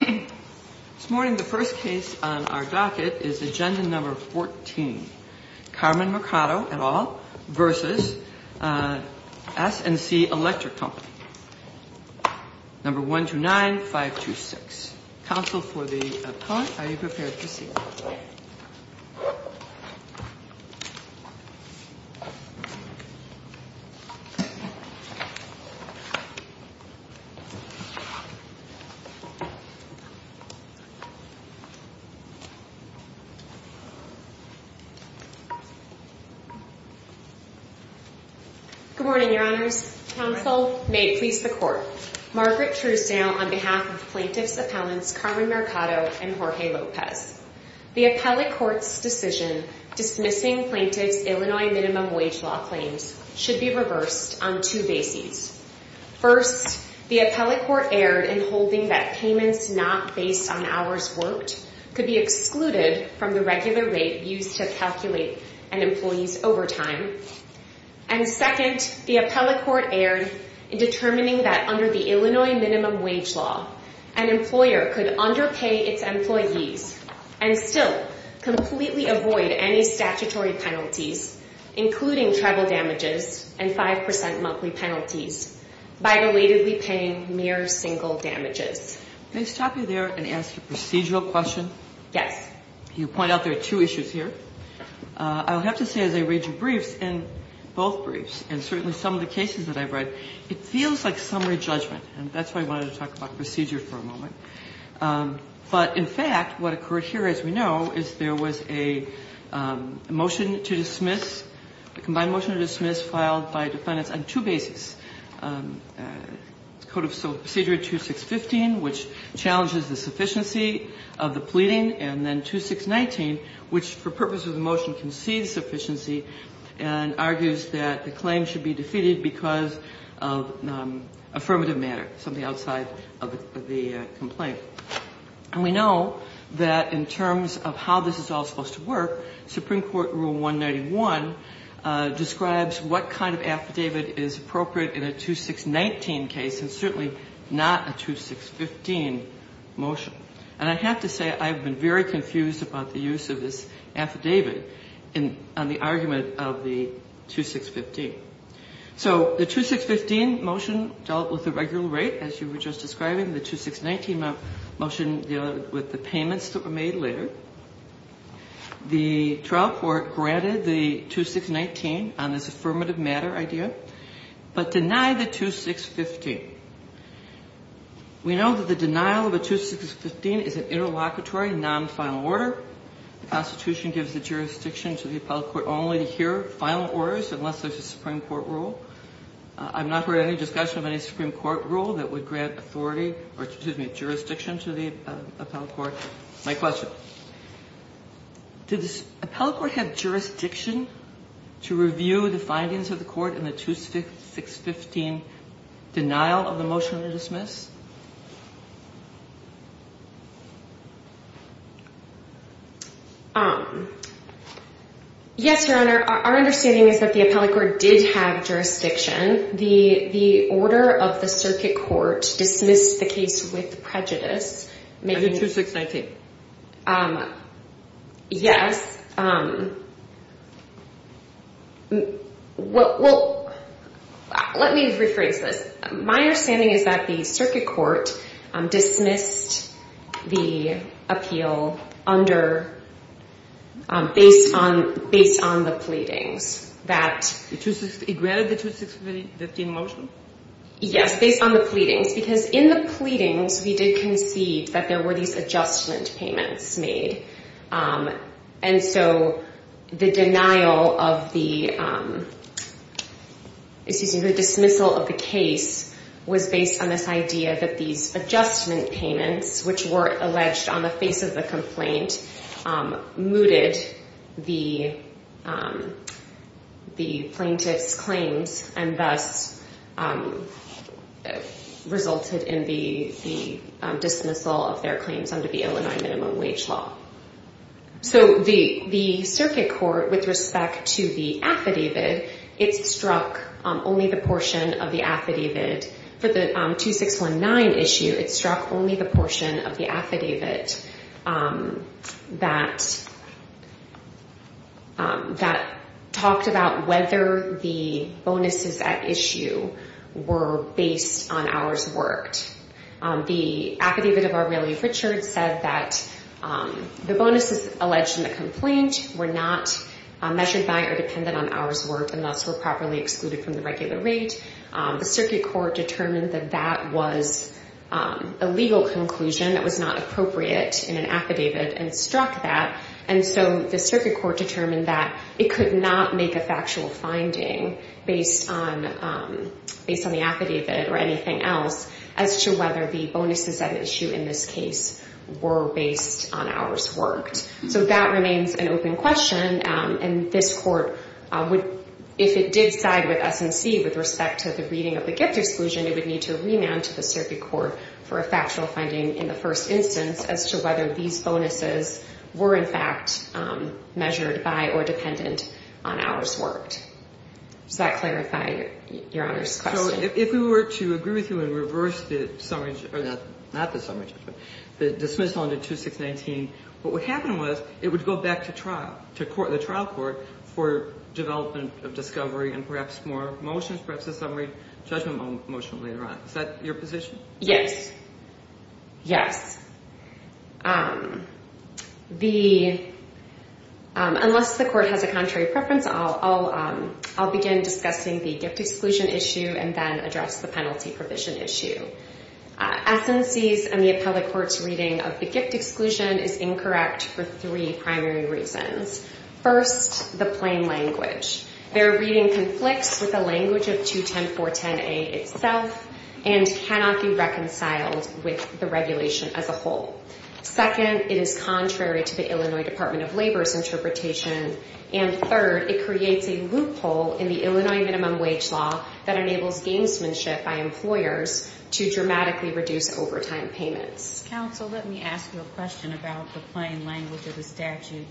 This morning, the first case on our docket is agenda number 14. Carmen Mercado et al. v. S&C Electric Co. No. 129526. Counsel for the appellant, are you prepared to see? Good morning, your honors. Counsel, may it please the court. Margaret Truesdale on behalf of plaintiffs' appellants Carmen Mercado and Jorge Lopez. The appellate court's decision dismissing plaintiffs' Illinois minimum wage law claims should be reversed on two bases. First, the appellate court erred in holding that payments not based on hours worked could be excluded from the regular rate used to calculate an employee's overtime. And second, the appellate court erred in determining that under the Illinois minimum wage law, an employer could underpay its employees and still completely avoid any statutory penalties, including travel damages and 5% monthly penalties, by relatedly paying mere single damages. May I stop you there and ask a procedural question? Yes. You point out there are two issues here. I would have to say as I read your briefs and both briefs and certainly some of the cases that I've read, it feels like summary judgment. And that's why I wanted to talk about procedure for a moment. But in fact, what occurred here, as we know, is there was a motion to dismiss, a combined motion to dismiss filed by defendants on two bases. Code of Procedure 2615, which challenges the sufficiency of the pleading, and then 2619, which for purposes of the motion, concedes sufficiency and argues that the claim should be defeated because of affirmative matter, something outside of the complaint. And we know that in terms of how this is all supposed to work, Supreme Court Rule 191 describes what kind of affidavit is appropriate in a 2619 case and certainly not a 2615 motion. And I have to say I've been very confused about the use of this affidavit on the argument of the 2615. So the 2615 motion dealt with the regular rate, as you were just describing. The 2619 motion dealt with the payments that were made later. The trial court granted the 2619 on this affirmative matter idea, but denied the 2615. We know that the denial of a 2615 is an interlocutory non-final order. The Constitution gives the jurisdiction to the appellate court only to hear final orders unless there's a Supreme Court rule. I've not heard any discussion of any Supreme Court rule that would grant authority or, excuse me, jurisdiction to the appellate court. My question, did the appellate court have jurisdiction to review the findings of the court in the 2615 denial of the motion to dismiss? Yes, Your Honor. Our understanding is that the appellate court did have jurisdiction. The order of the circuit court dismissed the case with prejudice. On the 2619. Yes. Well, let me rephrase this. My understanding is that the circuit court dismissed the appeal under, based on the pleadings. It granted the 2615 motion? Yes, based on the pleadings. Because in the pleadings, we did concede that there were these adjustment payments made. And so the denial of the, excuse me, the dismissal of the case was based on this idea that these adjustment payments, which were alleged on the face of the complaint, mooted the plaintiff's claims and thus resulted in the dismissal of their claims under the Illinois minimum wage law. So the circuit court, with respect to the affidavit, it struck only the portion of the affidavit. For the 2619 issue, it struck only the portion of the affidavit that talked about whether the bonuses at issue were based on hours worked. The affidavit of Aurelia Richards said that the bonuses alleged in the complaint were not measured by or dependent on hours worked and thus were properly excluded from the regular rate. The circuit court determined that that was a legal conclusion. It was not appropriate in an affidavit and struck that. And so the circuit court determined that it could not make a factual finding based on the affidavit or anything else as to whether the bonuses at issue in this case were based on hours worked. So that remains an open question. And this court, if it did side with S&C with respect to the reading of the gift exclusion, it would need to remand to the circuit court for a factual finding in the first instance as to whether these bonuses were in fact measured by or dependent on hours worked. Does that clarify Your Honor's question? If we were to agree with you and reverse the dismissal under 2619, what would happen was it would go back to the trial court for development of discovery and perhaps more motions, perhaps a summary judgment motion later on. Is that your position? Yes. Yes. Unless the court has a contrary preference, I'll begin discussing the gift exclusion issue and then address the penalty provision issue. S&C's and the appellate court's reading of the gift exclusion is incorrect for three primary reasons. First, the plain language. Their reading conflicts with the language of 210410A itself and cannot be reconciled with the regulation as a whole. Second, it is contrary to the Illinois Department of Labor's interpretation. And third, it creates a loophole in the Illinois minimum wage law that enables gamesmanship by employers to dramatically reduce overtime payments. Counsel, let me ask you a question about the plain language of the statute.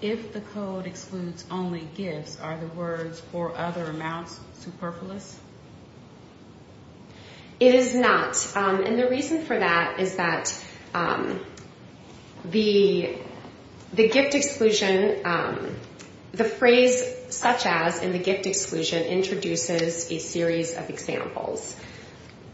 If the code excludes only gifts, are the words for other amounts superfluous? It is not. And the reason for that is that the gift exclusion, the phrase such as in the gift exclusion introduces a series of examples.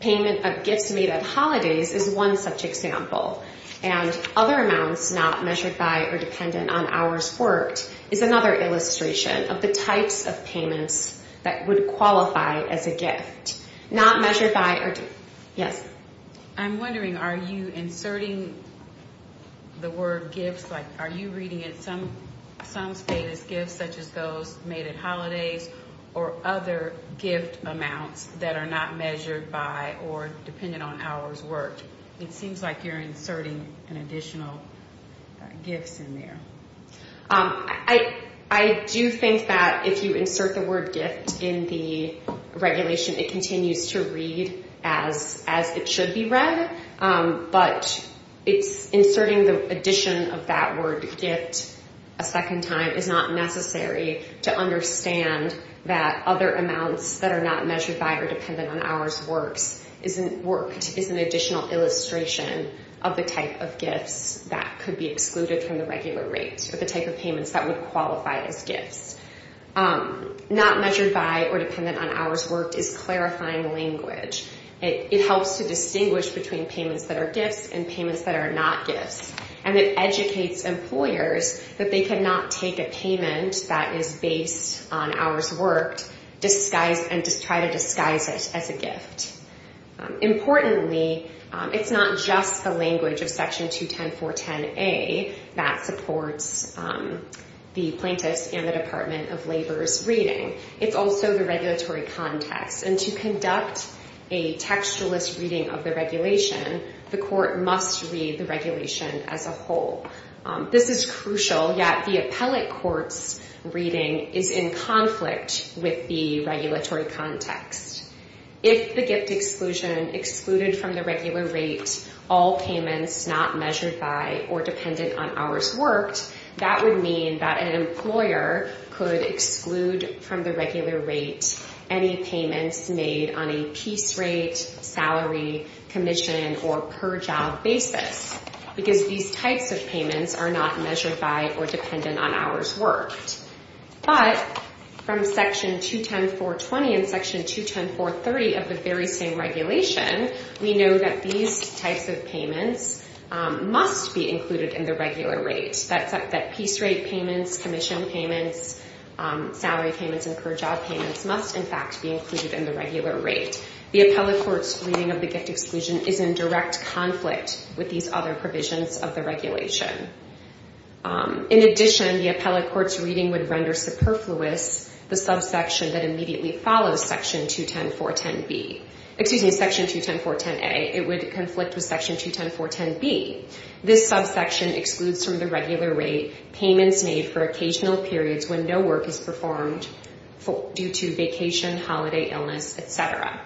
Payment of gifts made at holidays is one such example. And other amounts not measured by or dependent on hours worked is another illustration of the types of payments that would qualify as a gift. Not measured by or dependent. Yes. I'm wondering, are you inserting the word gifts? Like, are you reading it some space as gifts such as those made at holidays or other gift amounts that are not measured by or dependent on hours worked? It seems like you're inserting an additional gifts in there. I do think that if you insert the word gift in the regulation, it continues to read as it should be read. But inserting the addition of that word gift a second time is not necessary to understand that other amounts that are not measured by or dependent on hours worked is an additional illustration of the type of gifts that could be excluded from the regular rates or the type of payments that would qualify as gifts. Not measured by or dependent on hours worked is clarifying language. It helps to distinguish between payments that are gifts and payments that are not gifts. And it educates employers that they cannot take a payment that is based on hours worked and try to disguise it as a gift. Importantly, it's not just the language of Section 210.410A that supports the plaintiffs and the Department of Labor's reading. It's also the regulatory context. And to conduct a textualist reading of the regulation, the court must read the regulation as a whole. This is crucial, yet the appellate court's reading is in conflict with the regulatory context. If the gift exclusion excluded from the regular rate all payments not measured by or dependent on hours worked, that would mean that an employer could exclude from the regular rate any payments made on a piece rate, salary, commission, or per job basis. Because these types of payments are not measured by or dependent on hours worked. But from Section 210.420 and Section 210.430 of the very same regulation, we know that these types of payments must be included in the regular rate. That piece rate payments, commission payments, salary payments, and per job payments must, in fact, be included in the regular rate. The appellate court's reading of the gift exclusion is in direct conflict with these other provisions of the regulation. In addition, the appellate court's reading would render superfluous the subsection that immediately follows Section 210.410B. Excuse me, Section 210.410A. It would conflict with Section 210.410B. This subsection excludes from the regular rate payments made for occasional periods when no work is performed due to vacation, holiday illness, et cetera.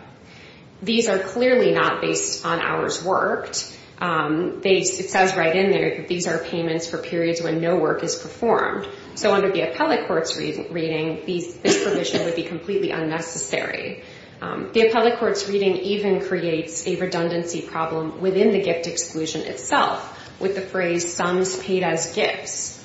These are clearly not based on hours worked. It says right in there that these are payments for periods when no work is performed. So under the appellate court's reading, this provision would be completely unnecessary. The appellate court's reading even creates a redundancy problem within the gift exclusion itself with the phrase sums paid as gifts.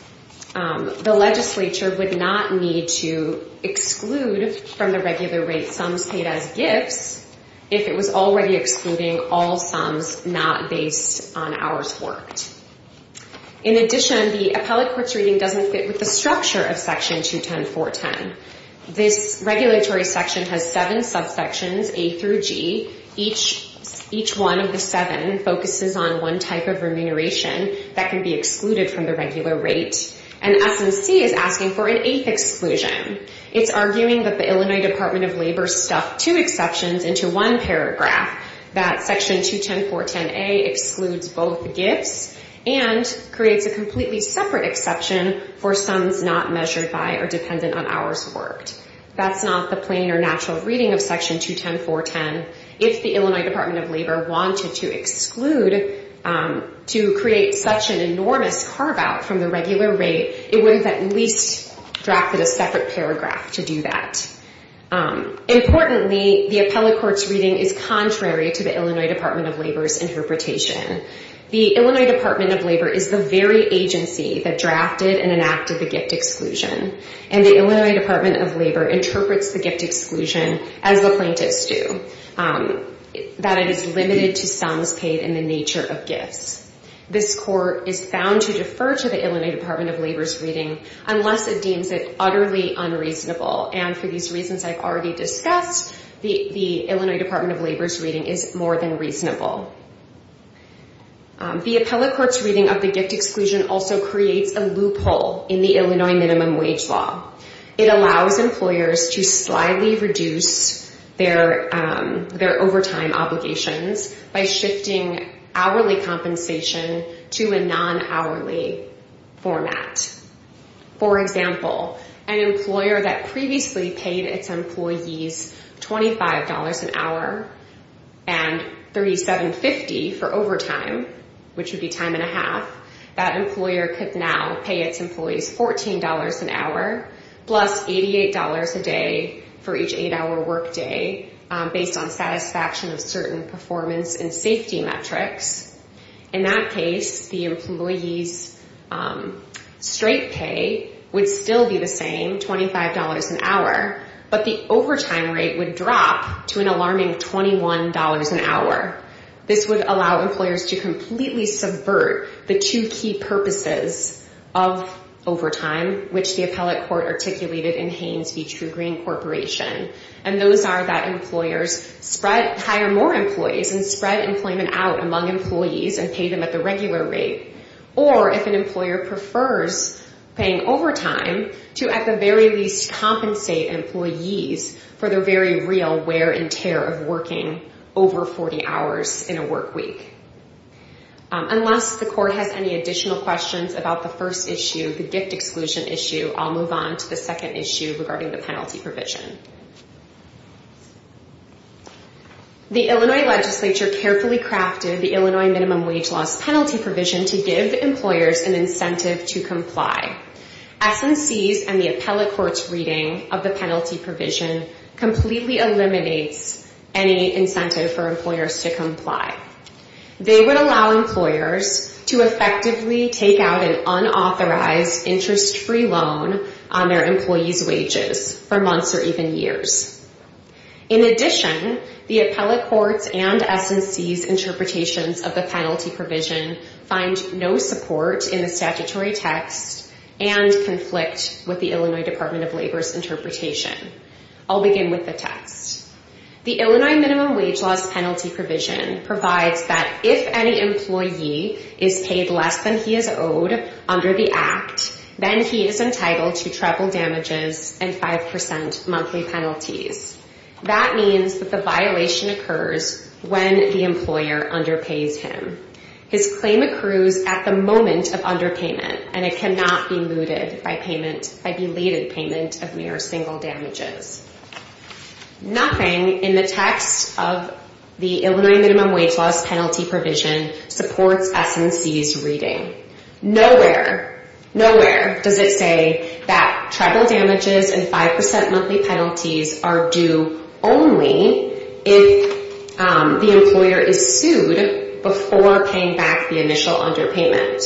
The legislature would not need to exclude from the regular rate sums paid as gifts if it was already excluding all sums not based on hours worked. In addition, the appellate court's reading doesn't fit with the structure of Section 210.410. This regulatory section has seven subsections, A through G. Each one of the seven focuses on one type of remuneration that can be excluded from the regular rate. And S&C is asking for an eighth exclusion. It's arguing that the Illinois Department of Labor stuffed two exceptions into one paragraph, that Section 210.410A excludes both gifts and creates a completely separate exception for sums not measured by or dependent on hours worked. That's not the plain or natural reading of Section 210.410. If the Illinois Department of Labor wanted to exclude to create such an enormous carve-out from the regular rate, it would have at least drafted a separate paragraph to do that. Importantly, the appellate court's reading is contrary to the Illinois Department of Labor's interpretation. The Illinois Department of Labor is the very agency that drafted and enacted the gift exclusion. And the Illinois Department of Labor interprets the gift exclusion as the plaintiffs do, that it is limited to sums paid in the nature of gifts. This court is found to defer to the Illinois Department of Labor's reading unless it deems it utterly unreasonable. And for these reasons I've already discussed, the Illinois Department of Labor's reading is more than reasonable. The appellate court's reading of the gift exclusion also creates a loophole in the Illinois minimum wage law. It allows employers to slightly reduce their overtime obligations by shifting hourly compensation to a non-hourly format. For example, an employer that previously paid its employees $25 an hour and $37.50 for overtime, which would be time and a half, that employer could now pay its employees $14 an hour plus $88 a day for each eight-hour work day based on satisfaction of certain performance and safety metrics. In that case, the employee's straight pay would still be the same, $25 an hour, but the overtime rate would drop to an alarming $21 an hour. This would allow employers to completely subvert the two key purposes of overtime, which the appellate court articulated in Haynes v. True Green Corporation. And those are that employers hire more employees and spread employment out among employees and pay them at the regular rate. Or if an employer prefers paying overtime, to at the very least compensate employees for their very real wear and tear of working over 40 hours in a work week. Unless the court has any additional questions about the first issue, the gift exclusion issue, I'll move on to the second issue regarding the penalty provision. The Illinois legislature carefully crafted the Illinois minimum wage loss penalty provision to give employers an incentive to comply. SNCs and the appellate court's reading of the penalty provision completely eliminates any incentive for employers to comply. They would allow employers to effectively take out an unauthorized interest-free loan on their employees' wages for months or even years. In addition, the appellate court's and SNC's interpretations of the penalty provision find no support in the statutory text and conflict with the Illinois Department of Labor's interpretation. I'll begin with the text. The Illinois minimum wage loss penalty provision provides that if any employee is paid less than he is owed under the act, then he is entitled to triple damages and 5% monthly penalties. That means that the violation occurs when the employer underpays him. His claim accrues at the moment of underpayment, and it cannot be mooted by belated payment of mere single damages. Nothing in the text of the Illinois minimum wage loss penalty provision supports SNC's reading. Nowhere, nowhere does it say that triple damages and 5% monthly penalties are due only if the employer is sued before paying back the initial underpayment.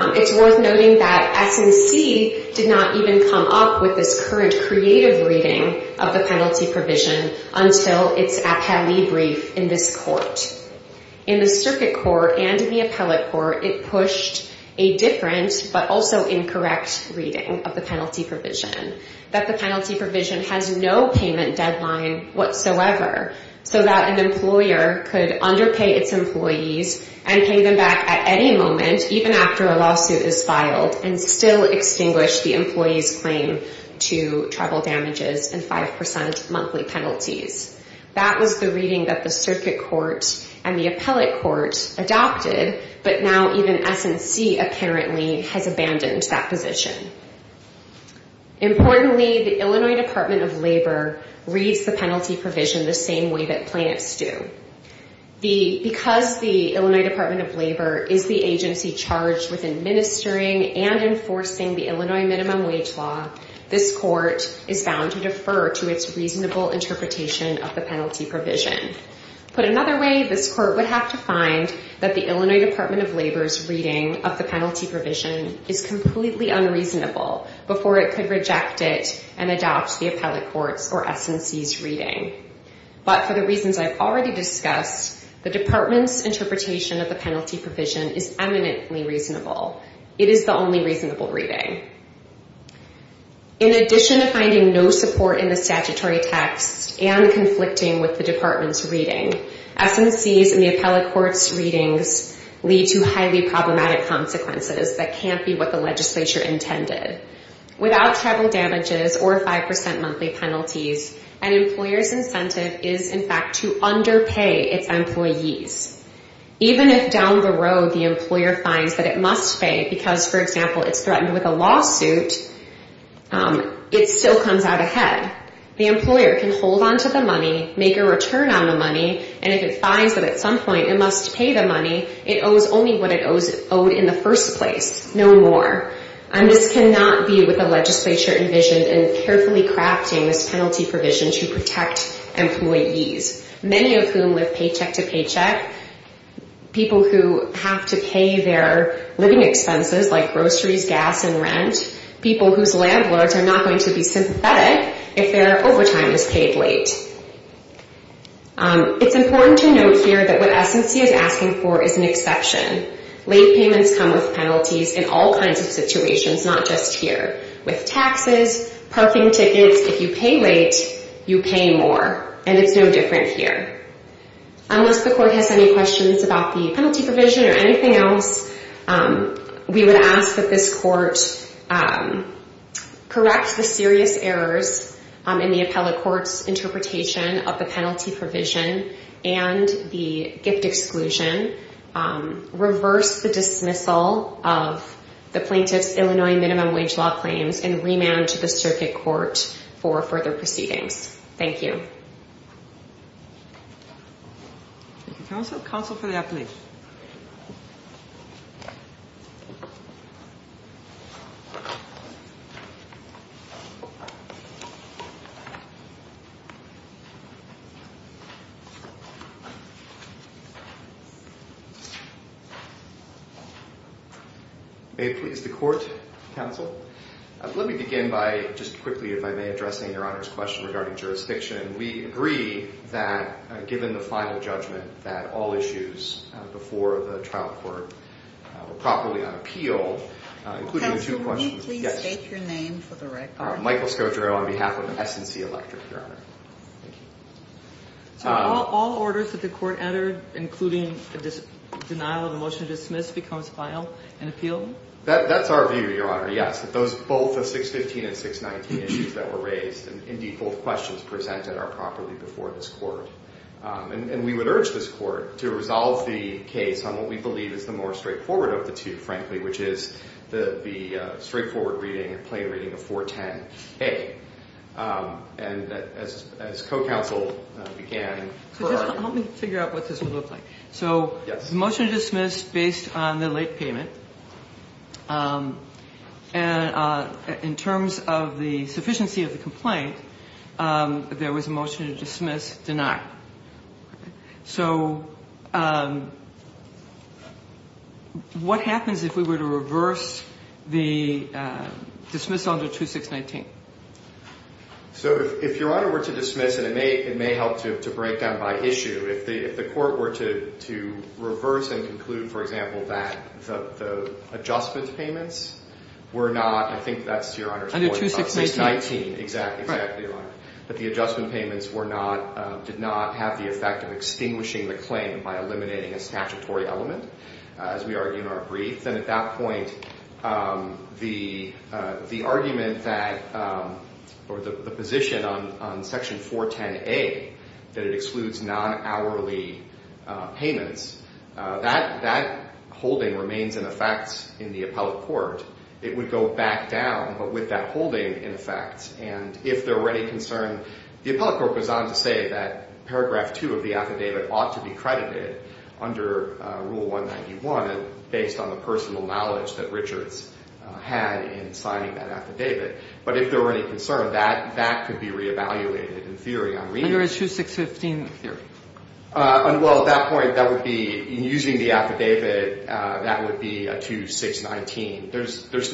It's worth noting that SNC did not even come up with this current creative reading of the penalty provision until its appellee brief in this court. In the circuit court and the appellate court, it pushed a different but also incorrect reading of the penalty provision, that the penalty provision has no payment deadline whatsoever, so that an employer could underpay its employees and pay them back at any moment, even after a lawsuit is filed, and still extinguish the employee's claim to triple damages and 5% monthly penalties. That was the reading that the circuit court and the appellate court adopted, but now even SNC apparently has abandoned that position. Importantly, the Illinois Department of Labor reads the penalty provision the same way that plaintiffs do. Because the Illinois Department of Labor is the agency charged with administering and enforcing the Illinois minimum wage law, this court is bound to defer to its reasonable interpretation of the penalty provision. Put another way, this court would have to find that the Illinois Department of Labor's reading of the penalty provision is completely unreasonable before it could reject it and adopt the appellate court's or SNC's reading. But for the reasons I've already discussed, the department's interpretation of the penalty provision is eminently reasonable. It is the only reasonable reading. In addition to finding no support in the statutory text and conflicting with the department's reading, SNC's and the appellate court's readings lead to highly problematic consequences that can't be what the legislature intended. Without triple damages or 5% monthly penalties, an employer's incentive is, in fact, to underpay its employees. Even if down the road the employer finds that it must pay because, for example, it's threatened with a lawsuit, it still comes out ahead. The employer can hold on to the money, make a return on the money, and if it finds that at some point it must pay the money, it owes only what it owed in the first place, no more. And this cannot be what the legislature envisioned in carefully crafting this penalty provision to protect employees, many of whom live paycheck to paycheck, people who have to pay their living expenses like groceries, gas, and rent, people whose landlords are not going to be sympathetic if their overtime is paid late. It's important to note here that what SNC is asking for is an exception. Late payments come with penalties in all kinds of situations, not just here. With taxes, parking tickets, if you pay late, you pay more, and it's no different here. Unless the court has any questions about the penalty provision or anything else, we would ask that this court correct the serious errors in the appellate court's interpretation of the penalty provision and the gift exclusion, reverse the dismissal of the plaintiff's Illinois minimum wage law claims, and remand to the circuit court for further proceedings. Thank you. May it please the court, counsel? Let me begin by just quickly, if I may, addressing Your Honor's question regarding jurisdiction. We agree that given the final judgment that all issues before the trial court were properly on appeal, including two questions. Counsel, will you please state your name for the record? Michael Scodro on behalf of SNC Electric, Your Honor. So all orders that the court entered, including denial of the motion to dismiss, becomes filed and appealed? That's our view, Your Honor, yes. Both the 615 and 619 issues that were raised, and indeed both questions presented, are properly before this court. And we would urge this court to resolve the case on what we believe is the more straightforward of the two, frankly, which is the straightforward reading, plain reading of 410A. And as co-counsel began. So just help me figure out what this would look like. So motion to dismiss based on the late payment. And in terms of the sufficiency of the complaint, there was a motion to dismiss denied. So what happens if we were to reverse the dismiss under 2619? So if Your Honor were to dismiss, and it may help to break down by issue. If the court were to reverse and conclude, for example, that the adjustment payments were not, I think that's to Your Honor's point. Under 2619. Exactly, exactly, Your Honor. That the adjustment payments were not, did not have the effect of extinguishing the claim by eliminating a statutory element, as we argue in our brief. And at that point, the argument that, or the position on Section 410A, that it excludes non-hourly payments, that holding remains in effect in the appellate court. It would go back down, but with that holding in effect. And if there were any concern, the appellate court goes on to say that paragraph 2 of the affidavit ought to be credited under Rule 191, based on the personal knowledge that Richards had in signing that affidavit. But if there were any concern, that could be re-evaluated in theory. Under issue 615. In theory. There's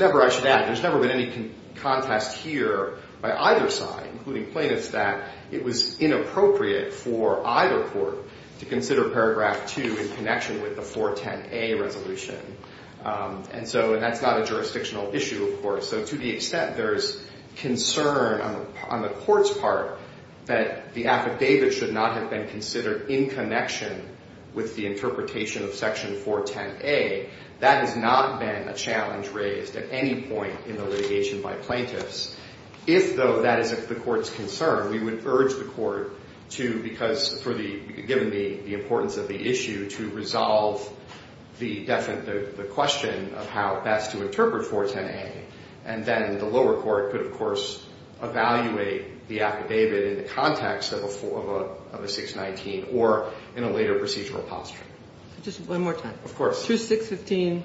never, I should add, there's never been any contest here by either side, including plaintiffs, that it was inappropriate for either court to consider paragraph 2 in connection with the 410A resolution. And so that's not a jurisdictional issue, of course. So to the extent there's concern on the court's part that the affidavit should not have been considered in connection with the interpretation of Section 410A, that has not been a challenge raised at any point in the litigation by plaintiffs. If, though, that is the court's concern, we would urge the court to, because for the, given the importance of the issue, to resolve the question of how best to interpret 410A. And then the lower court could, of course, evaluate the affidavit in the context of a 619 or in a later procedural posture. Just one more time. Of course. Through 615,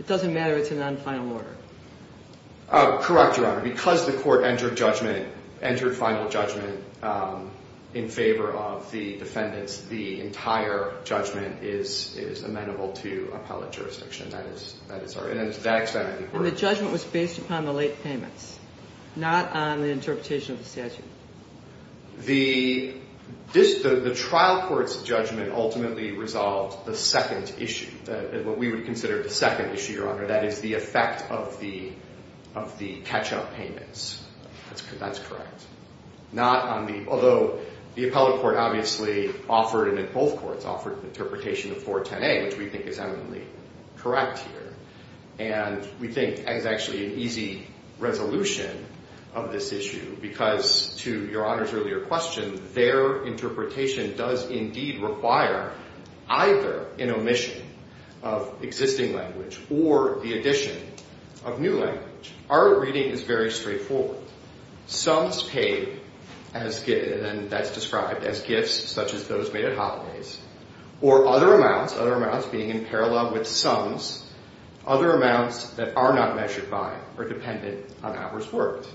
it doesn't matter if it's a non-final order. Correct, Your Honor. Because the court entered judgment, entered final judgment, in favor of the defendants, the entire judgment is amenable to appellate jurisdiction. That is our, and to that extent, I think, we're. And the judgment was based upon the late payments, not on the interpretation of the statute. The trial court's judgment ultimately resolved the second issue, what we would consider the second issue, Your Honor. That is the effect of the catch-up payments. That's correct. Not on the, although the appellate court obviously offered, and both courts offered, the interpretation of 410A, which we think is eminently correct here. And we think is actually an easy resolution of this issue because, to Your Honor's earlier question, their interpretation does indeed require either an omission of existing language or the addition of new language. Our reading is very straightforward. Sums paid, and that's described as gifts such as those made at holidays, or other amounts, other amounts being in parallel with sums, other amounts that are not measured by or dependent on hours worked.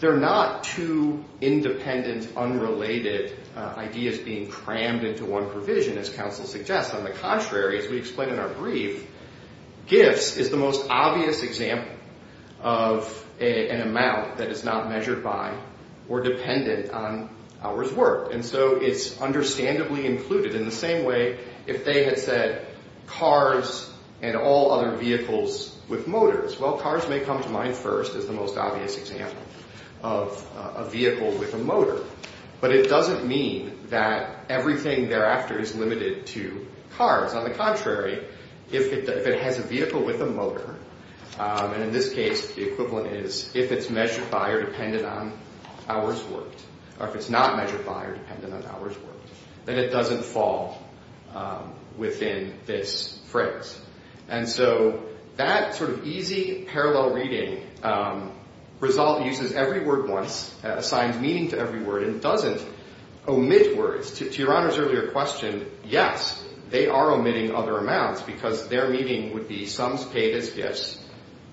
They're not two independent, unrelated ideas being crammed into one provision, as counsel suggests. On the contrary, as we explain in our brief, gifts is the most obvious example of an amount that is not measured by or dependent on hours worked. And so it's understandably included. In the same way, if they had said cars and all other vehicles with motors, well, cars may come to mind first as the most obvious example of a vehicle with a motor. But it doesn't mean that everything thereafter is limited to cars. On the contrary, if it has a vehicle with a motor, and in this case the equivalent is, if it's measured by or dependent on hours worked, or if it's not measured by or dependent on hours worked, then it doesn't fall within this phrase. And so that sort of easy parallel reading uses every word once, assigns meaning to every word, and doesn't omit words. To Your Honor's earlier question, yes, they are omitting other amounts, because their meaning would be sums paid as gifts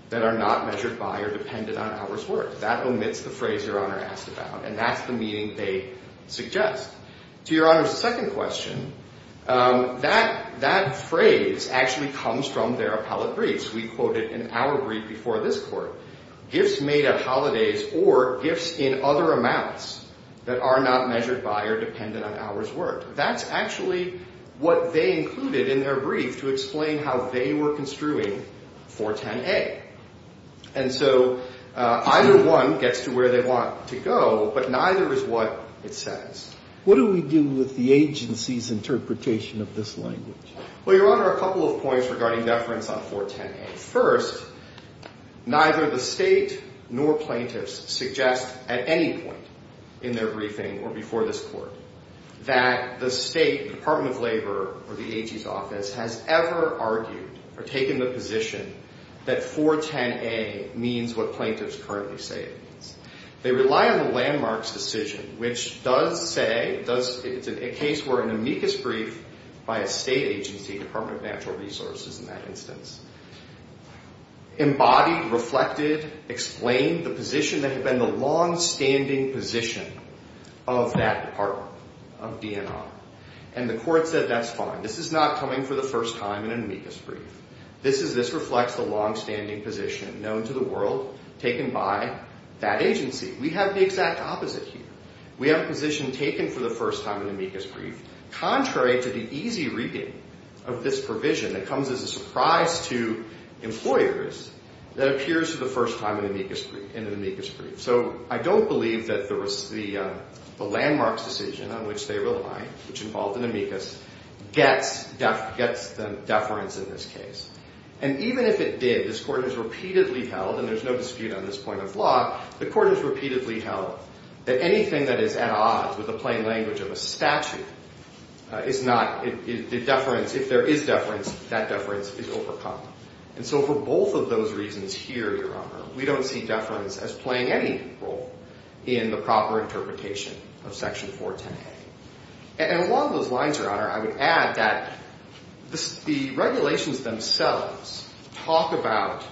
that are not measured by or dependent on hours worked. That omits the phrase Your Honor asked about, and that's the meaning they suggest. To Your Honor's second question, that phrase actually comes from their appellate briefs. We quoted in our brief before this court, gifts made at holidays or gifts in other amounts that are not measured by or dependent on hours worked. That's actually what they included in their brief to explain how they were construing 410A. And so either one gets to where they want to go, but neither is what it says. What do we do with the agency's interpretation of this language? Well, Your Honor, a couple of points regarding deference on 410A. First, neither the State nor plaintiffs suggest at any point in their briefing or before this court that the State Department of Labor or the AG's office has ever argued or taken the position that 410A means what plaintiffs currently say it means. They rely on the landmarks decision, which does say it's a case where an amicus brief by a State agency, Department of Natural Resources in that instance, embodied, reflected, explained the position that had been the longstanding position of that department, of DNR. And the court said that's fine. This is not coming for the first time in an amicus brief. This reflects the longstanding position known to the world taken by that agency. We have the exact opposite here. We have a position taken for the first time in an amicus brief. Contrary to the easy reading of this provision that comes as a surprise to employers that appears for the first time in an amicus brief. So I don't believe that the landmarks decision on which they rely, which involved an amicus, gets the deference in this case. And even if it did, this Court has repeatedly held, and there's no dispute on this point of law, the Court has repeatedly held that anything that is at odds with the plain language of a statute is not, the deference, if there is deference, that deference is overcome. And so for both of those reasons here, Your Honor, we don't see deference as playing any role in the proper interpretation of Section 410A. And along those lines, Your Honor, I would add that the regulations themselves talk about,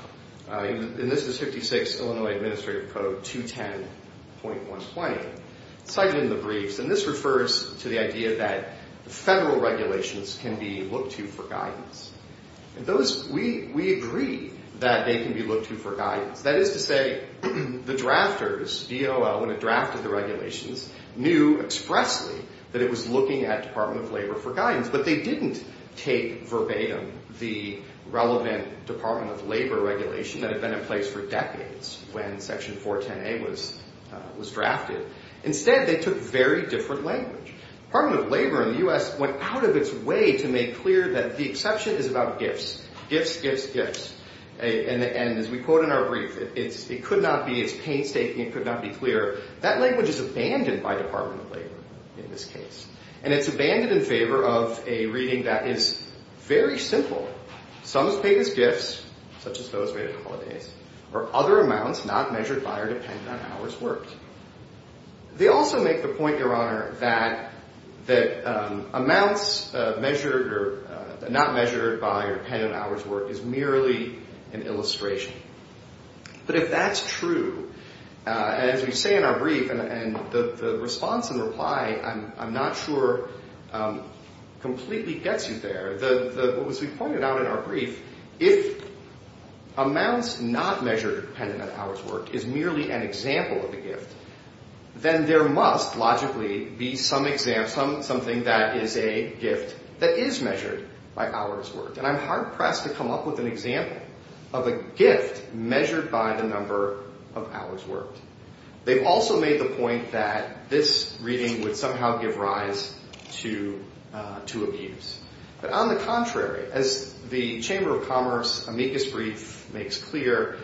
and this is 56 Illinois Administrative Code 210.120, cited in the briefs, and this refers to the idea that federal regulations can be looked to for guidance. And those, we agree that they can be looked to for guidance. That is to say, the drafters, DOL, when it drafted the regulations, knew expressly that it was looking at Department of Labor for guidance, but they didn't take verbatim the relevant Department of Labor regulation that had been in place for decades when Section 410A was drafted. Instead, they took very different language. Department of Labor in the U.S. went out of its way to make clear that the exception is about gifts, gifts, gifts, gifts. And as we quote in our brief, it could not be as painstaking, it could not be clearer. That language is abandoned by Department of Labor in this case, and it's abandoned in favor of a reading that is very simple. Sums paid as gifts, such as those made on holidays, are other amounts not measured by or dependent on hours worked. They also make the point, Your Honor, that amounts measured or not measured by or dependent on hours worked is merely an illustration. But if that's true, as we say in our brief, and the response in reply, I'm not sure completely gets you there. As we pointed out in our brief, if amounts not measured or dependent on hours worked is merely an example of a gift, then there must logically be something that is a gift that is measured by hours worked. And I'm hard-pressed to come up with an example of a gift measured by the number of hours worked. They've also made the point that this reading would somehow give rise to abuse. But on the contrary, as the Chamber of Commerce amicus brief makes clear,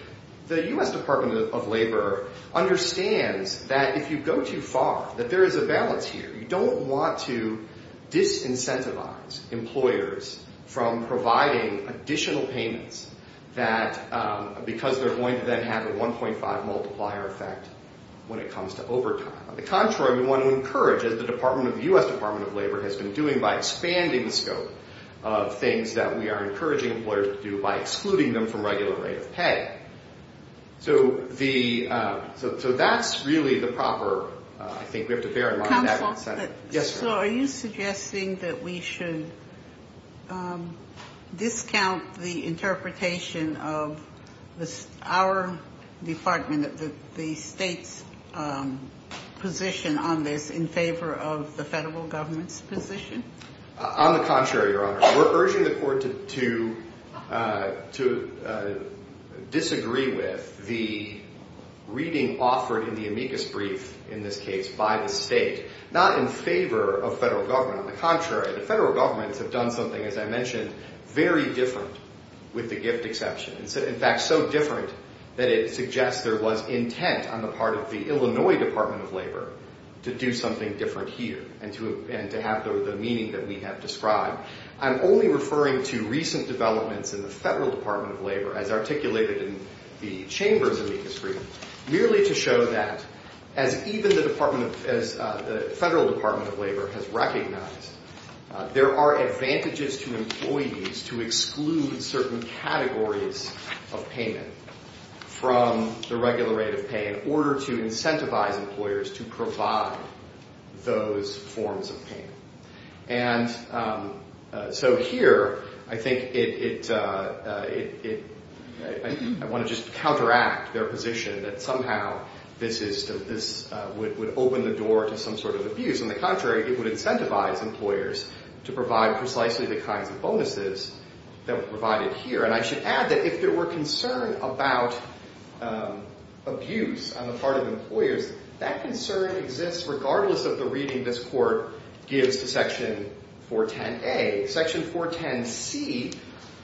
the U.S. Department of Labor understands that if you go too far, that there is a balance here. You don't want to disincentivize employers from providing additional payments because they're going to then have a 1.5 multiplier effect when it comes to overtime. On the contrary, we want to encourage, as the U.S. Department of Labor has been doing by expanding the scope of things that we are encouraging employers to do by excluding them from regular rate of pay. So that's really the proper, I think we have to bear in mind that. Yes, ma'am. So are you suggesting that we should discount the interpretation of our department, the state's position on this in favor of the federal government's position? On the contrary, Your Honor. We're urging the court to disagree with the reading offered in the amicus brief, in this case, by the state, not in favor of federal government. On the contrary, the federal governments have done something, as I mentioned, very different with the gift exception. In fact, so different that it suggests there was intent on the part of the Illinois Department of Labor to do something different here and to have the meaning that we have described. I'm only referring to recent developments in the federal Department of Labor, as articulated in the chambers amicus brief, merely to show that as even the federal Department of Labor has recognized, there are advantages to employees to exclude certain categories of payment from the regular rate of pay in order to incentivize employers to provide those forms of payment. And so here, I think it, I want to just counteract their position that somehow this would open the door to some sort of abuse. On the contrary, it would incentivize employers to provide precisely the kinds of bonuses that were provided here. And I should add that if there were concern about abuse on the part of employers, that concern exists regardless of the reading this court gives to Section 410A. Section 410C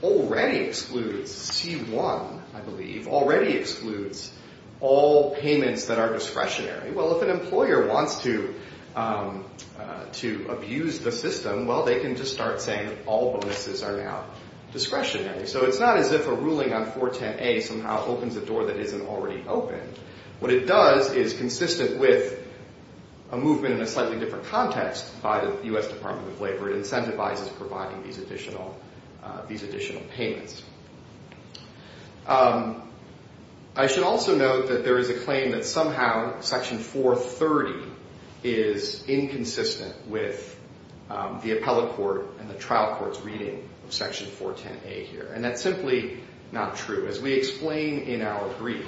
already excludes, C1, I believe, already excludes all payments that are discretionary. Well, if an employer wants to abuse the system, well, they can just start saying that all bonuses are now discretionary. So it's not as if a ruling on 410A somehow opens a door that isn't already open. What it does is consistent with a movement in a slightly different context by the U.S. Department of Labor. It incentivizes providing these additional payments. I should also note that there is a claim that somehow Section 430 is inconsistent with the appellate court and the trial court's reading of Section 410A here. And that's simply not true. As we explain in our brief,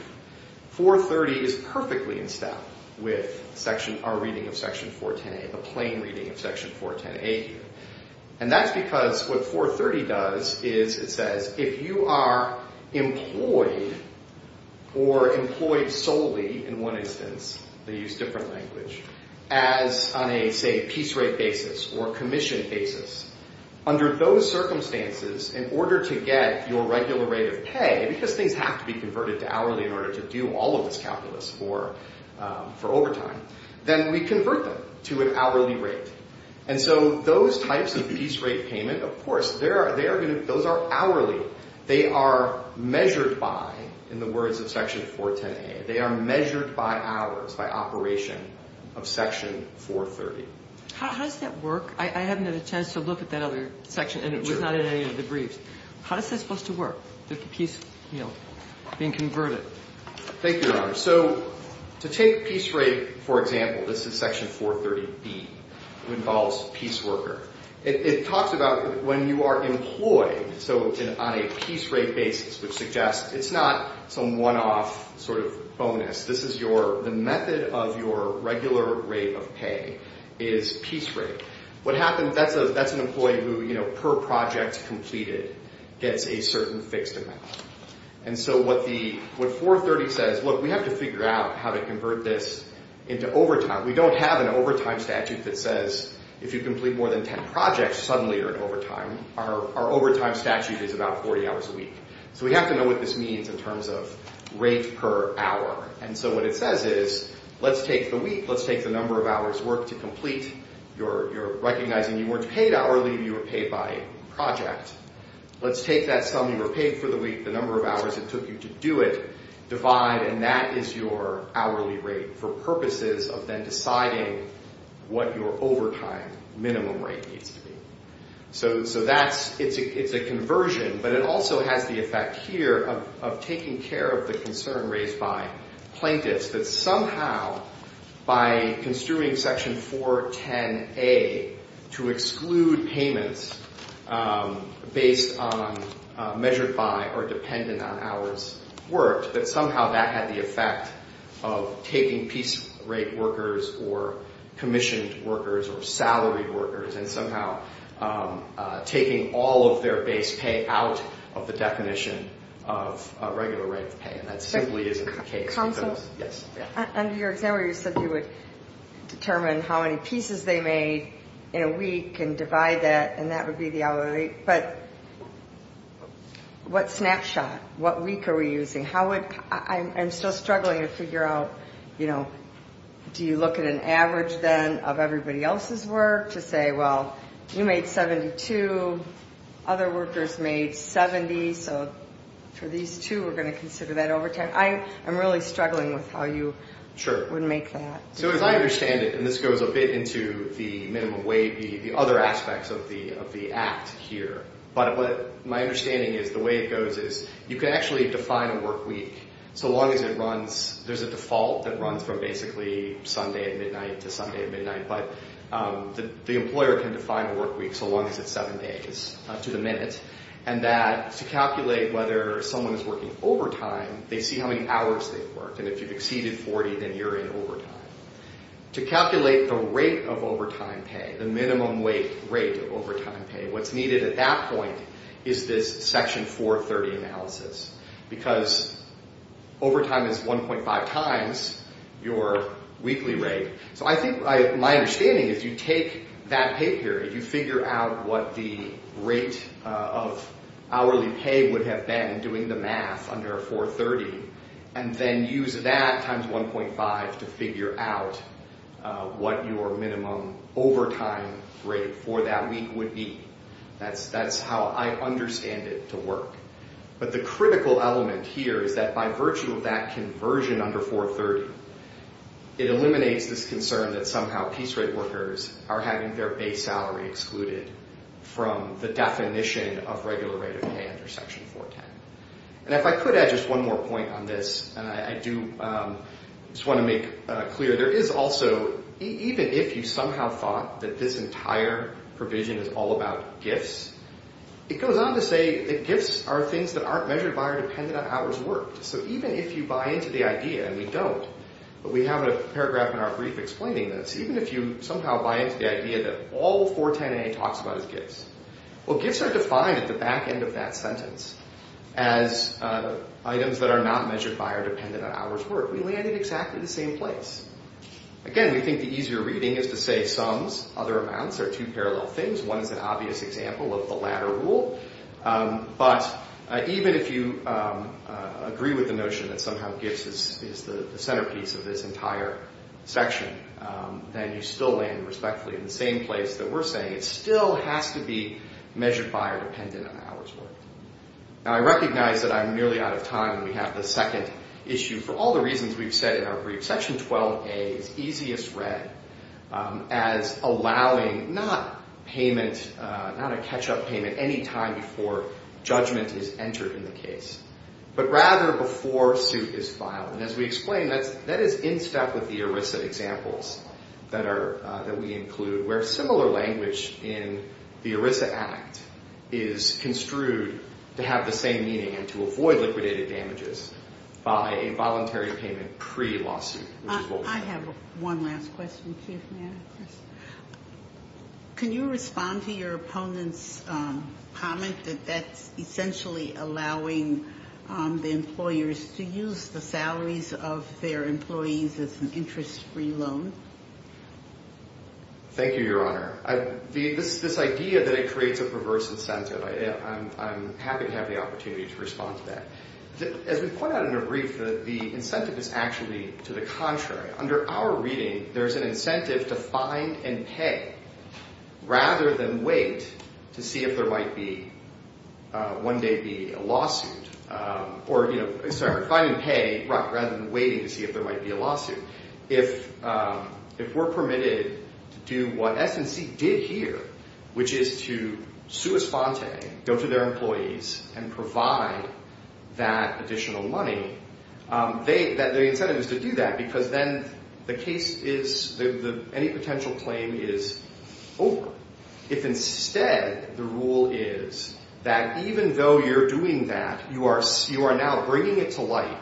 430 is perfectly in step with our reading of Section 410A, the plain reading of Section 410A here. And that's because what 430 does is it says if you are employed or employed solely, in one instance, they use different language, as on a, say, piece rate basis or commission basis, under those circumstances, in order to get your regular rate of pay, because things have to be converted to hourly in order to do all of this calculus for overtime, then we convert them to an hourly rate. And so those types of piece rate payment, of course, those are hourly. They are measured by, in the words of Section 410A, they are measured by hours, by operation of Section 430. How does that work? I haven't had a chance to look at that other section, and it was not in any of the briefs. How is that supposed to work, the piece being converted? Thank you, Your Honor. So to take piece rate, for example, this is Section 430B. It involves piece worker. It talks about when you are employed, so on a piece rate basis, which suggests it's not some one-off sort of bonus. This is your, the method of your regular rate of pay is piece rate. What happens, that's an employee who, you know, per project completed gets a certain fixed amount. And so what the, what 430 says, look, we have to figure out how to convert this into overtime. We don't have an overtime statute that says if you complete more than 10 projects, suddenly you're in overtime. Our overtime statute is about 40 hours a week. So we have to know what this means in terms of rate per hour. And so what it says is, let's take the week, let's take the number of hours worked to complete. You're recognizing you weren't paid hourly, you were paid by project. Let's take that sum you were paid for the week, the number of hours it took you to do it, divide, and that is your hourly rate for purposes of then deciding what your overtime minimum rate needs to be. So that's, it's a conversion, but it also has the effect here of taking care of the concern raised by plaintiffs that somehow by construing Section 410A to exclude payments based on measured by or dependent on hours worked, that somehow that had the effect of taking piece rate workers or commissioned workers or salaried workers and somehow taking all of their base pay out of the definition of regular rate of pay. And that simply isn't the case. Under your example, you said you would determine how many pieces they made in a week and divide that, and that would be the hourly rate, but what snapshot, what week are we using? How would, I'm still struggling to figure out, you know, do you look at an average then of everybody else's work to say, well, you made 72, other workers made 70. So for these two, we're going to consider that overtime. I'm really struggling with how you would make that. Sure. So as I understand it, and this goes a bit into the minimum wage, the other aspects of the act here, but my understanding is the way it goes is you can actually define a work week so long as it runs, there's a default that runs from basically Sunday at midnight to Sunday at midnight, but the employer can define a work week so long as it's seven days to the minute, and that to calculate whether someone is working overtime, they see how many hours they've worked, and if you've exceeded 40, then you're in overtime. To calculate the rate of overtime pay, the minimum rate of overtime pay, what's needed at that point is this Section 430 analysis because overtime is 1.5 times your weekly rate, so I think my understanding is you take that pay period, you figure out what the rate of hourly pay would have been doing the math under 430, and then use that times 1.5 to figure out what your minimum overtime rate for that week would be. That's how I understand it to work, but the critical element here is that by virtue of that conversion under 430, it eliminates this concern that somehow piece rate workers are having their base salary excluded from the definition of regular rate of pay under Section 410, and if I could add just one more point on this, and I do just want to make clear, there is also, even if you somehow thought that this entire provision is all about gifts, it goes on to say that gifts are things that aren't measured by or dependent on hours worked, so even if you buy into the idea, and we don't, but we have a paragraph in our brief explaining this, even if you somehow buy into the idea that all 410A talks about is gifts, well, gifts are defined at the back end of that sentence as items that are not measured by or dependent on hours worked. We land in exactly the same place. Again, we think the easier reading is to say sums, other amounts are two parallel things. One is an obvious example of the latter rule, but even if you agree with the notion that somehow gifts is the centerpiece of this entire section, then you still land respectfully in the same place that we're saying. It still has to be measured by or dependent on hours worked. Now, I recognize that I'm nearly out of time, and we have the second issue. For all the reasons we've said in our brief, Section 12A is easiest read as allowing not payment, not a catch-up payment any time before judgment is entered in the case, but rather before suit is filed, and as we explained, that is in step with the ERISA examples that we include, where similar language in the ERISA Act is construed to have the same meaning and to avoid liquidated damages by a voluntary payment pre-lawsuit, which is what we're doing. I have one last question, too, if may I, Chris. Can you respond to your opponent's comment that that's essentially allowing the employers to use the salaries of their employees as an interest-free loan? Thank you, Your Honor. This idea that it creates a perverse incentive, I'm happy to have the opportunity to respond to that. As we point out in our brief, the incentive is actually to the contrary. Under our reading, there's an incentive to find and pay rather than wait to see if there might be one day be a lawsuit, or, you know, sorry, find and pay rather than waiting to see if there might be a lawsuit. If we're permitted to do what S&C did here, which is to sua sponte, go to their employees and provide that additional money, the incentive is to do that because then the case is, any potential claim is over. If instead the rule is that even though you're doing that, you are now bringing it to light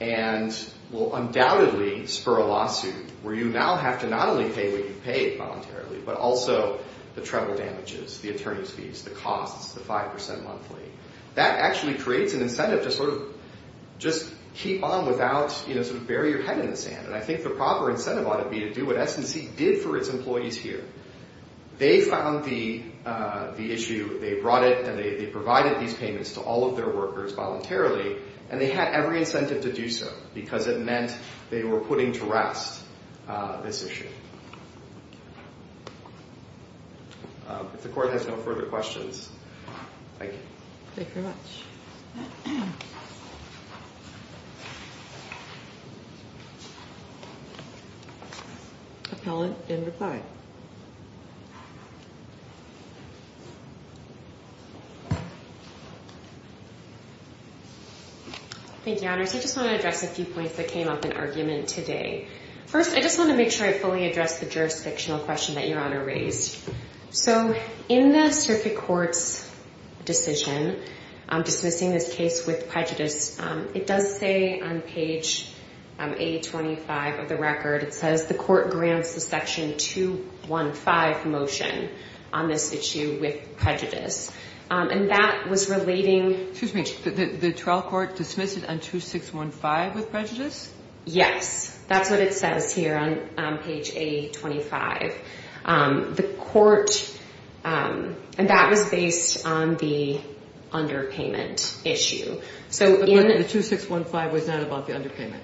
and will undoubtedly spur a lawsuit where you now have to not only pay what you paid voluntarily, but also the travel damages, the attorney's fees, the costs, the 5% monthly, that actually creates an incentive to sort of just keep on without, you know, sort of bury your head in the sand. And I think the proper incentive ought to be to do what S&C did for its employees here. They found the issue, they brought it, and they provided these payments to all of their workers voluntarily, and they had every incentive to do so because it meant they were putting to rest this issue. If the court has no further questions, thank you. Thank you very much. Appellant in reply. Thank you, Your Honors. I just want to address a few points that came up in argument today. First, I just want to make sure I fully address the jurisdictional question that Your Honor raised. So in the circuit court's decision dismissing this case with prejudice, it does say on page 825 of the record, it says the court grants the section 215 motion on this issue with prejudice. And that was relating to the trial court dismiss it on 2615 with prejudice? Yes, that's what it says here on page 825. The court, and that was based on the underpayment issue. The 2615 was not about the underpayment?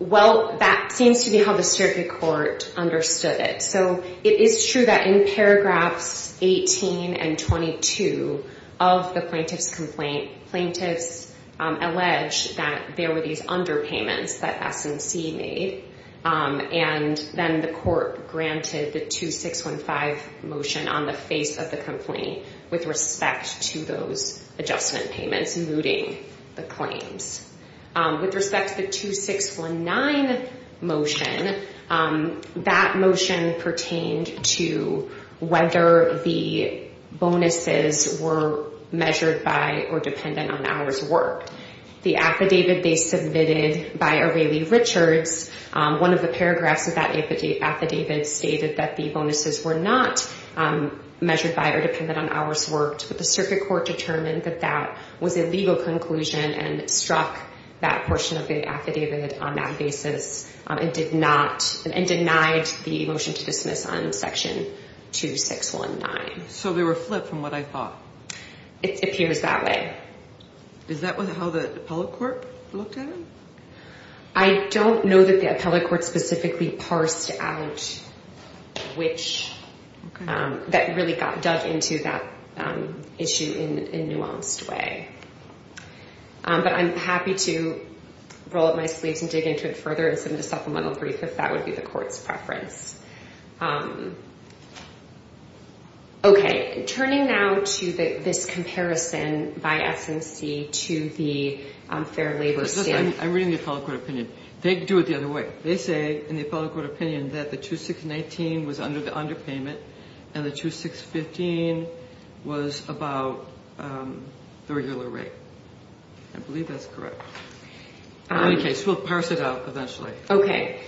Well, that seems to be how the circuit court understood it. So it is true that in paragraphs 18 and 22 of the plaintiff's complaint, plaintiffs alleged that there were these underpayments that S&C made, and then the court granted the 2615 motion on the face of the complaint with respect to those adjustment payments, mooting the claims. With respect to the 2619 motion, that motion pertained to whether the bonuses were measured by or dependent on hours worked. The affidavit they submitted by A'Reilly Richards, one of the paragraphs of that affidavit stated that the bonuses were not measured by or dependent on hours worked, but the circuit court determined that that was a legal conclusion and struck that portion of the affidavit on that basis and denied the motion to dismiss on section 2619. So they were flipped from what I thought? It appears that way. Is that how the appellate court looked at it? I don't know that the appellate court specifically parsed out which, that really got dug into that issue in a nuanced way. But I'm happy to roll up my sleeves and dig into it further and submit a supplemental brief if that would be the court's preference. Okay. Turning now to this comparison by S&C to the Fair Labor Statement. I'm reading the appellate court opinion. They do it the other way. They say in the appellate court opinion that the 2619 was under the underpayment and the 2615 was about the regular rate. I believe that's correct. In any case, we'll parse it out eventually. Okay.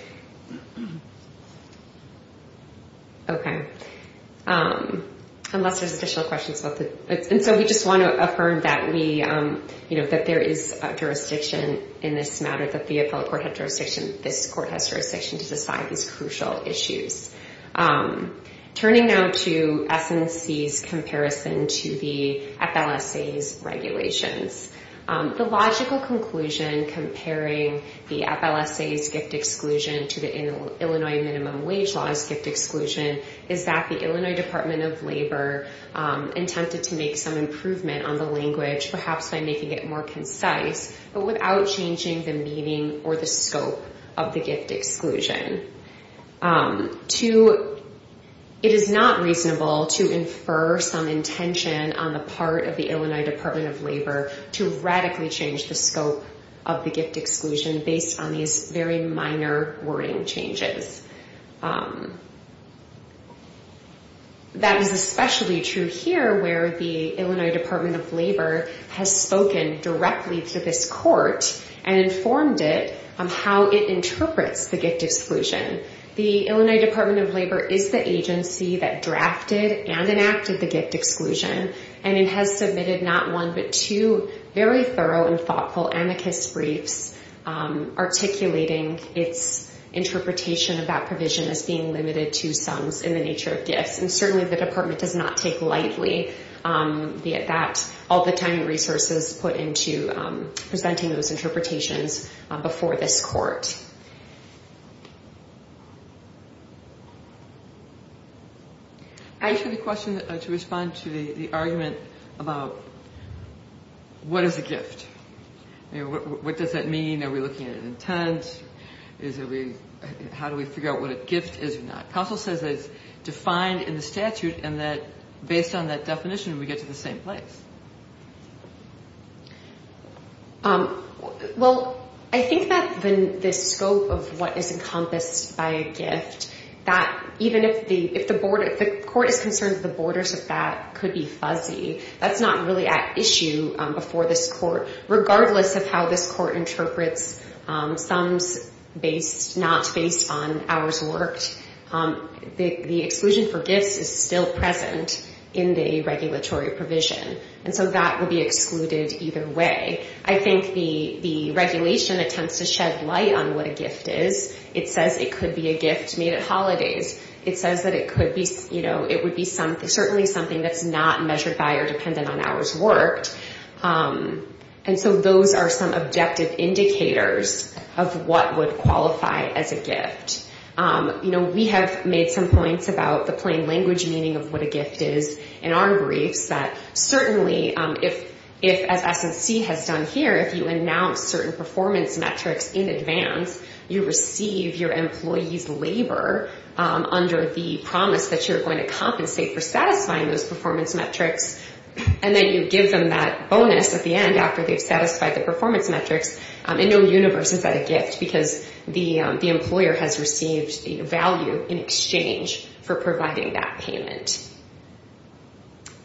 Unless there's additional questions. And so we just want to affirm that there is a jurisdiction in this matter, that the appellate court had jurisdiction, this court has jurisdiction to decide these crucial issues. Turning now to S&C's comparison to the FLSA's regulations. The logical conclusion comparing the FLSA's gift exclusion to the Illinois minimum wage law's gift exclusion is that the Illinois Department of Labor intended to make some improvement on the language, perhaps by making it more concise, but without changing the meaning or the scope of the gift exclusion. It is not reasonable to infer some intention on the part of the Illinois Department of Labor to radically change the scope of the gift exclusion based on these very minor wording changes. That is especially true here where the Illinois Department of Labor has spoken directly to this court and informed it on how it interprets the gift exclusion. The Illinois Department of Labor is the agency that drafted and enacted the gift exclusion, and it has submitted not one but two very thorough and thoughtful amicus briefs articulating its interpretation of that provision as being limited to sums in the nature of gifts. And certainly the department does not take lightly, be it that all the time and resources put into presenting those interpretations before this court. I have a question to respond to the argument about what is a gift. What does that mean? Are we looking at an intent? How do we figure out what a gift is or not? Counsel says it's defined in the statute and that based on that definition we get to the same place. Well, I think that the scope of what is encompassed by a gift, even if the court is concerned that the borders of that could be fuzzy, that's not really at issue before this court. Regardless of how this court interprets sums not based on hours worked, the exclusion for gifts is still present in the regulatory provision. And so that will be excluded either way. I think the regulation attempts to shed light on what a gift is. It says it could be a gift made at holidays. It says that it could be, you know, it would be certainly something that's not measured by or dependent on hours worked. And so those are some objective indicators of what would qualify as a gift. You know, we have made some points about the plain language meaning of what a gift is in our briefs that certainly if, as S&C has done here, if you announce certain performance metrics in advance, you receive your employee's labor under the promise that you're going to compensate for satisfying those performance metrics and then you give them that bonus at the end after they've satisfied the performance metrics. And no universe is that a gift because the employer has received the value in exchange for providing that payment.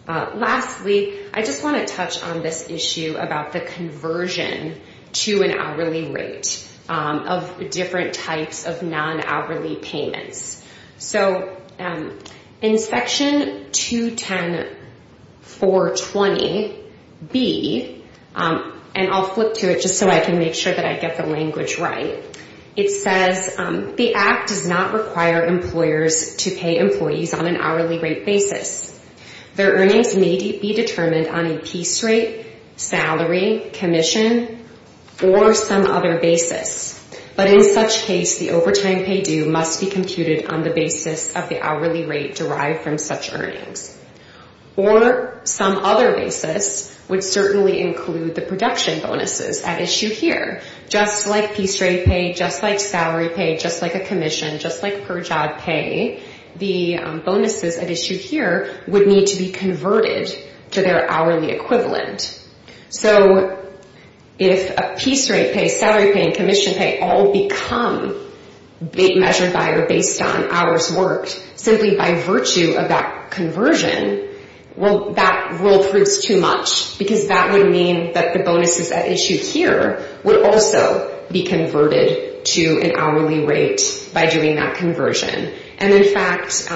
Lastly, I just want to touch on this issue about the conversion to an hourly rate of different types of non-hourly payments. So in section 210.420B, and I'll flip to it just so I can see where it is. I'll flip to it just so I can make sure that I get the language right. It says the Act does not require employers to pay employees on an hourly rate basis. Their earnings may be determined on a piece rate, salary, commission, or some other basis. But in such case, the overtime pay due must be computed on the basis of the hourly rate derived from such earnings. Or some other basis would certainly include the production bonuses at issue here. Just like piece rate pay, just like salary pay, just like a commission, just like per job pay, the bonuses at issue here would need to be converted to their hourly equivalent. So if a piece rate pay, salary pay, and commission pay all become measured by or based on hours worked, simply by virtue of that conversion, well, that rule proves too much. Because that would mean that the bonuses at issue here would also be converted to an hourly rate by doing that conversion. And in fact,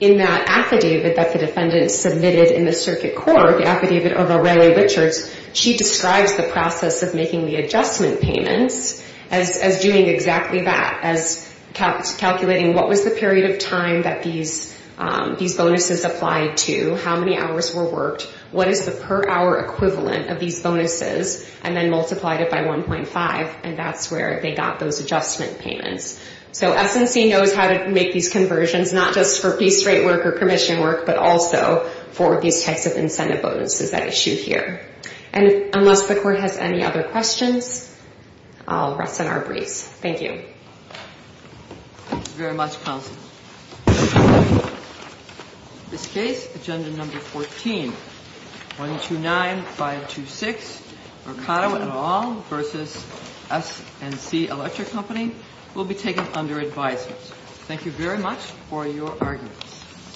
in that affidavit that the defendant submitted in the circuit court, the affidavit of O'Reilly Richards, she describes the process of making the adjustment payments as doing exactly that, as calculating what was the period of time that these bonuses applied to, how many hours were worked, what is the per hour equivalent of these bonuses, and then multiplied it by 1.5. And that's where they got those adjustment payments. So SNC knows how to make these conversions, not just for piece rate work or commission work, but also for these types of incentive bonuses at issue here. And unless the court has any other questions, I'll rest on our briefs. Thank you. Thank you very much, counsel. In this case, agenda number 14, 129-526, Mercado et al. v. SNC Electric Company will be taken under advisement. Thank you very much for your arguments.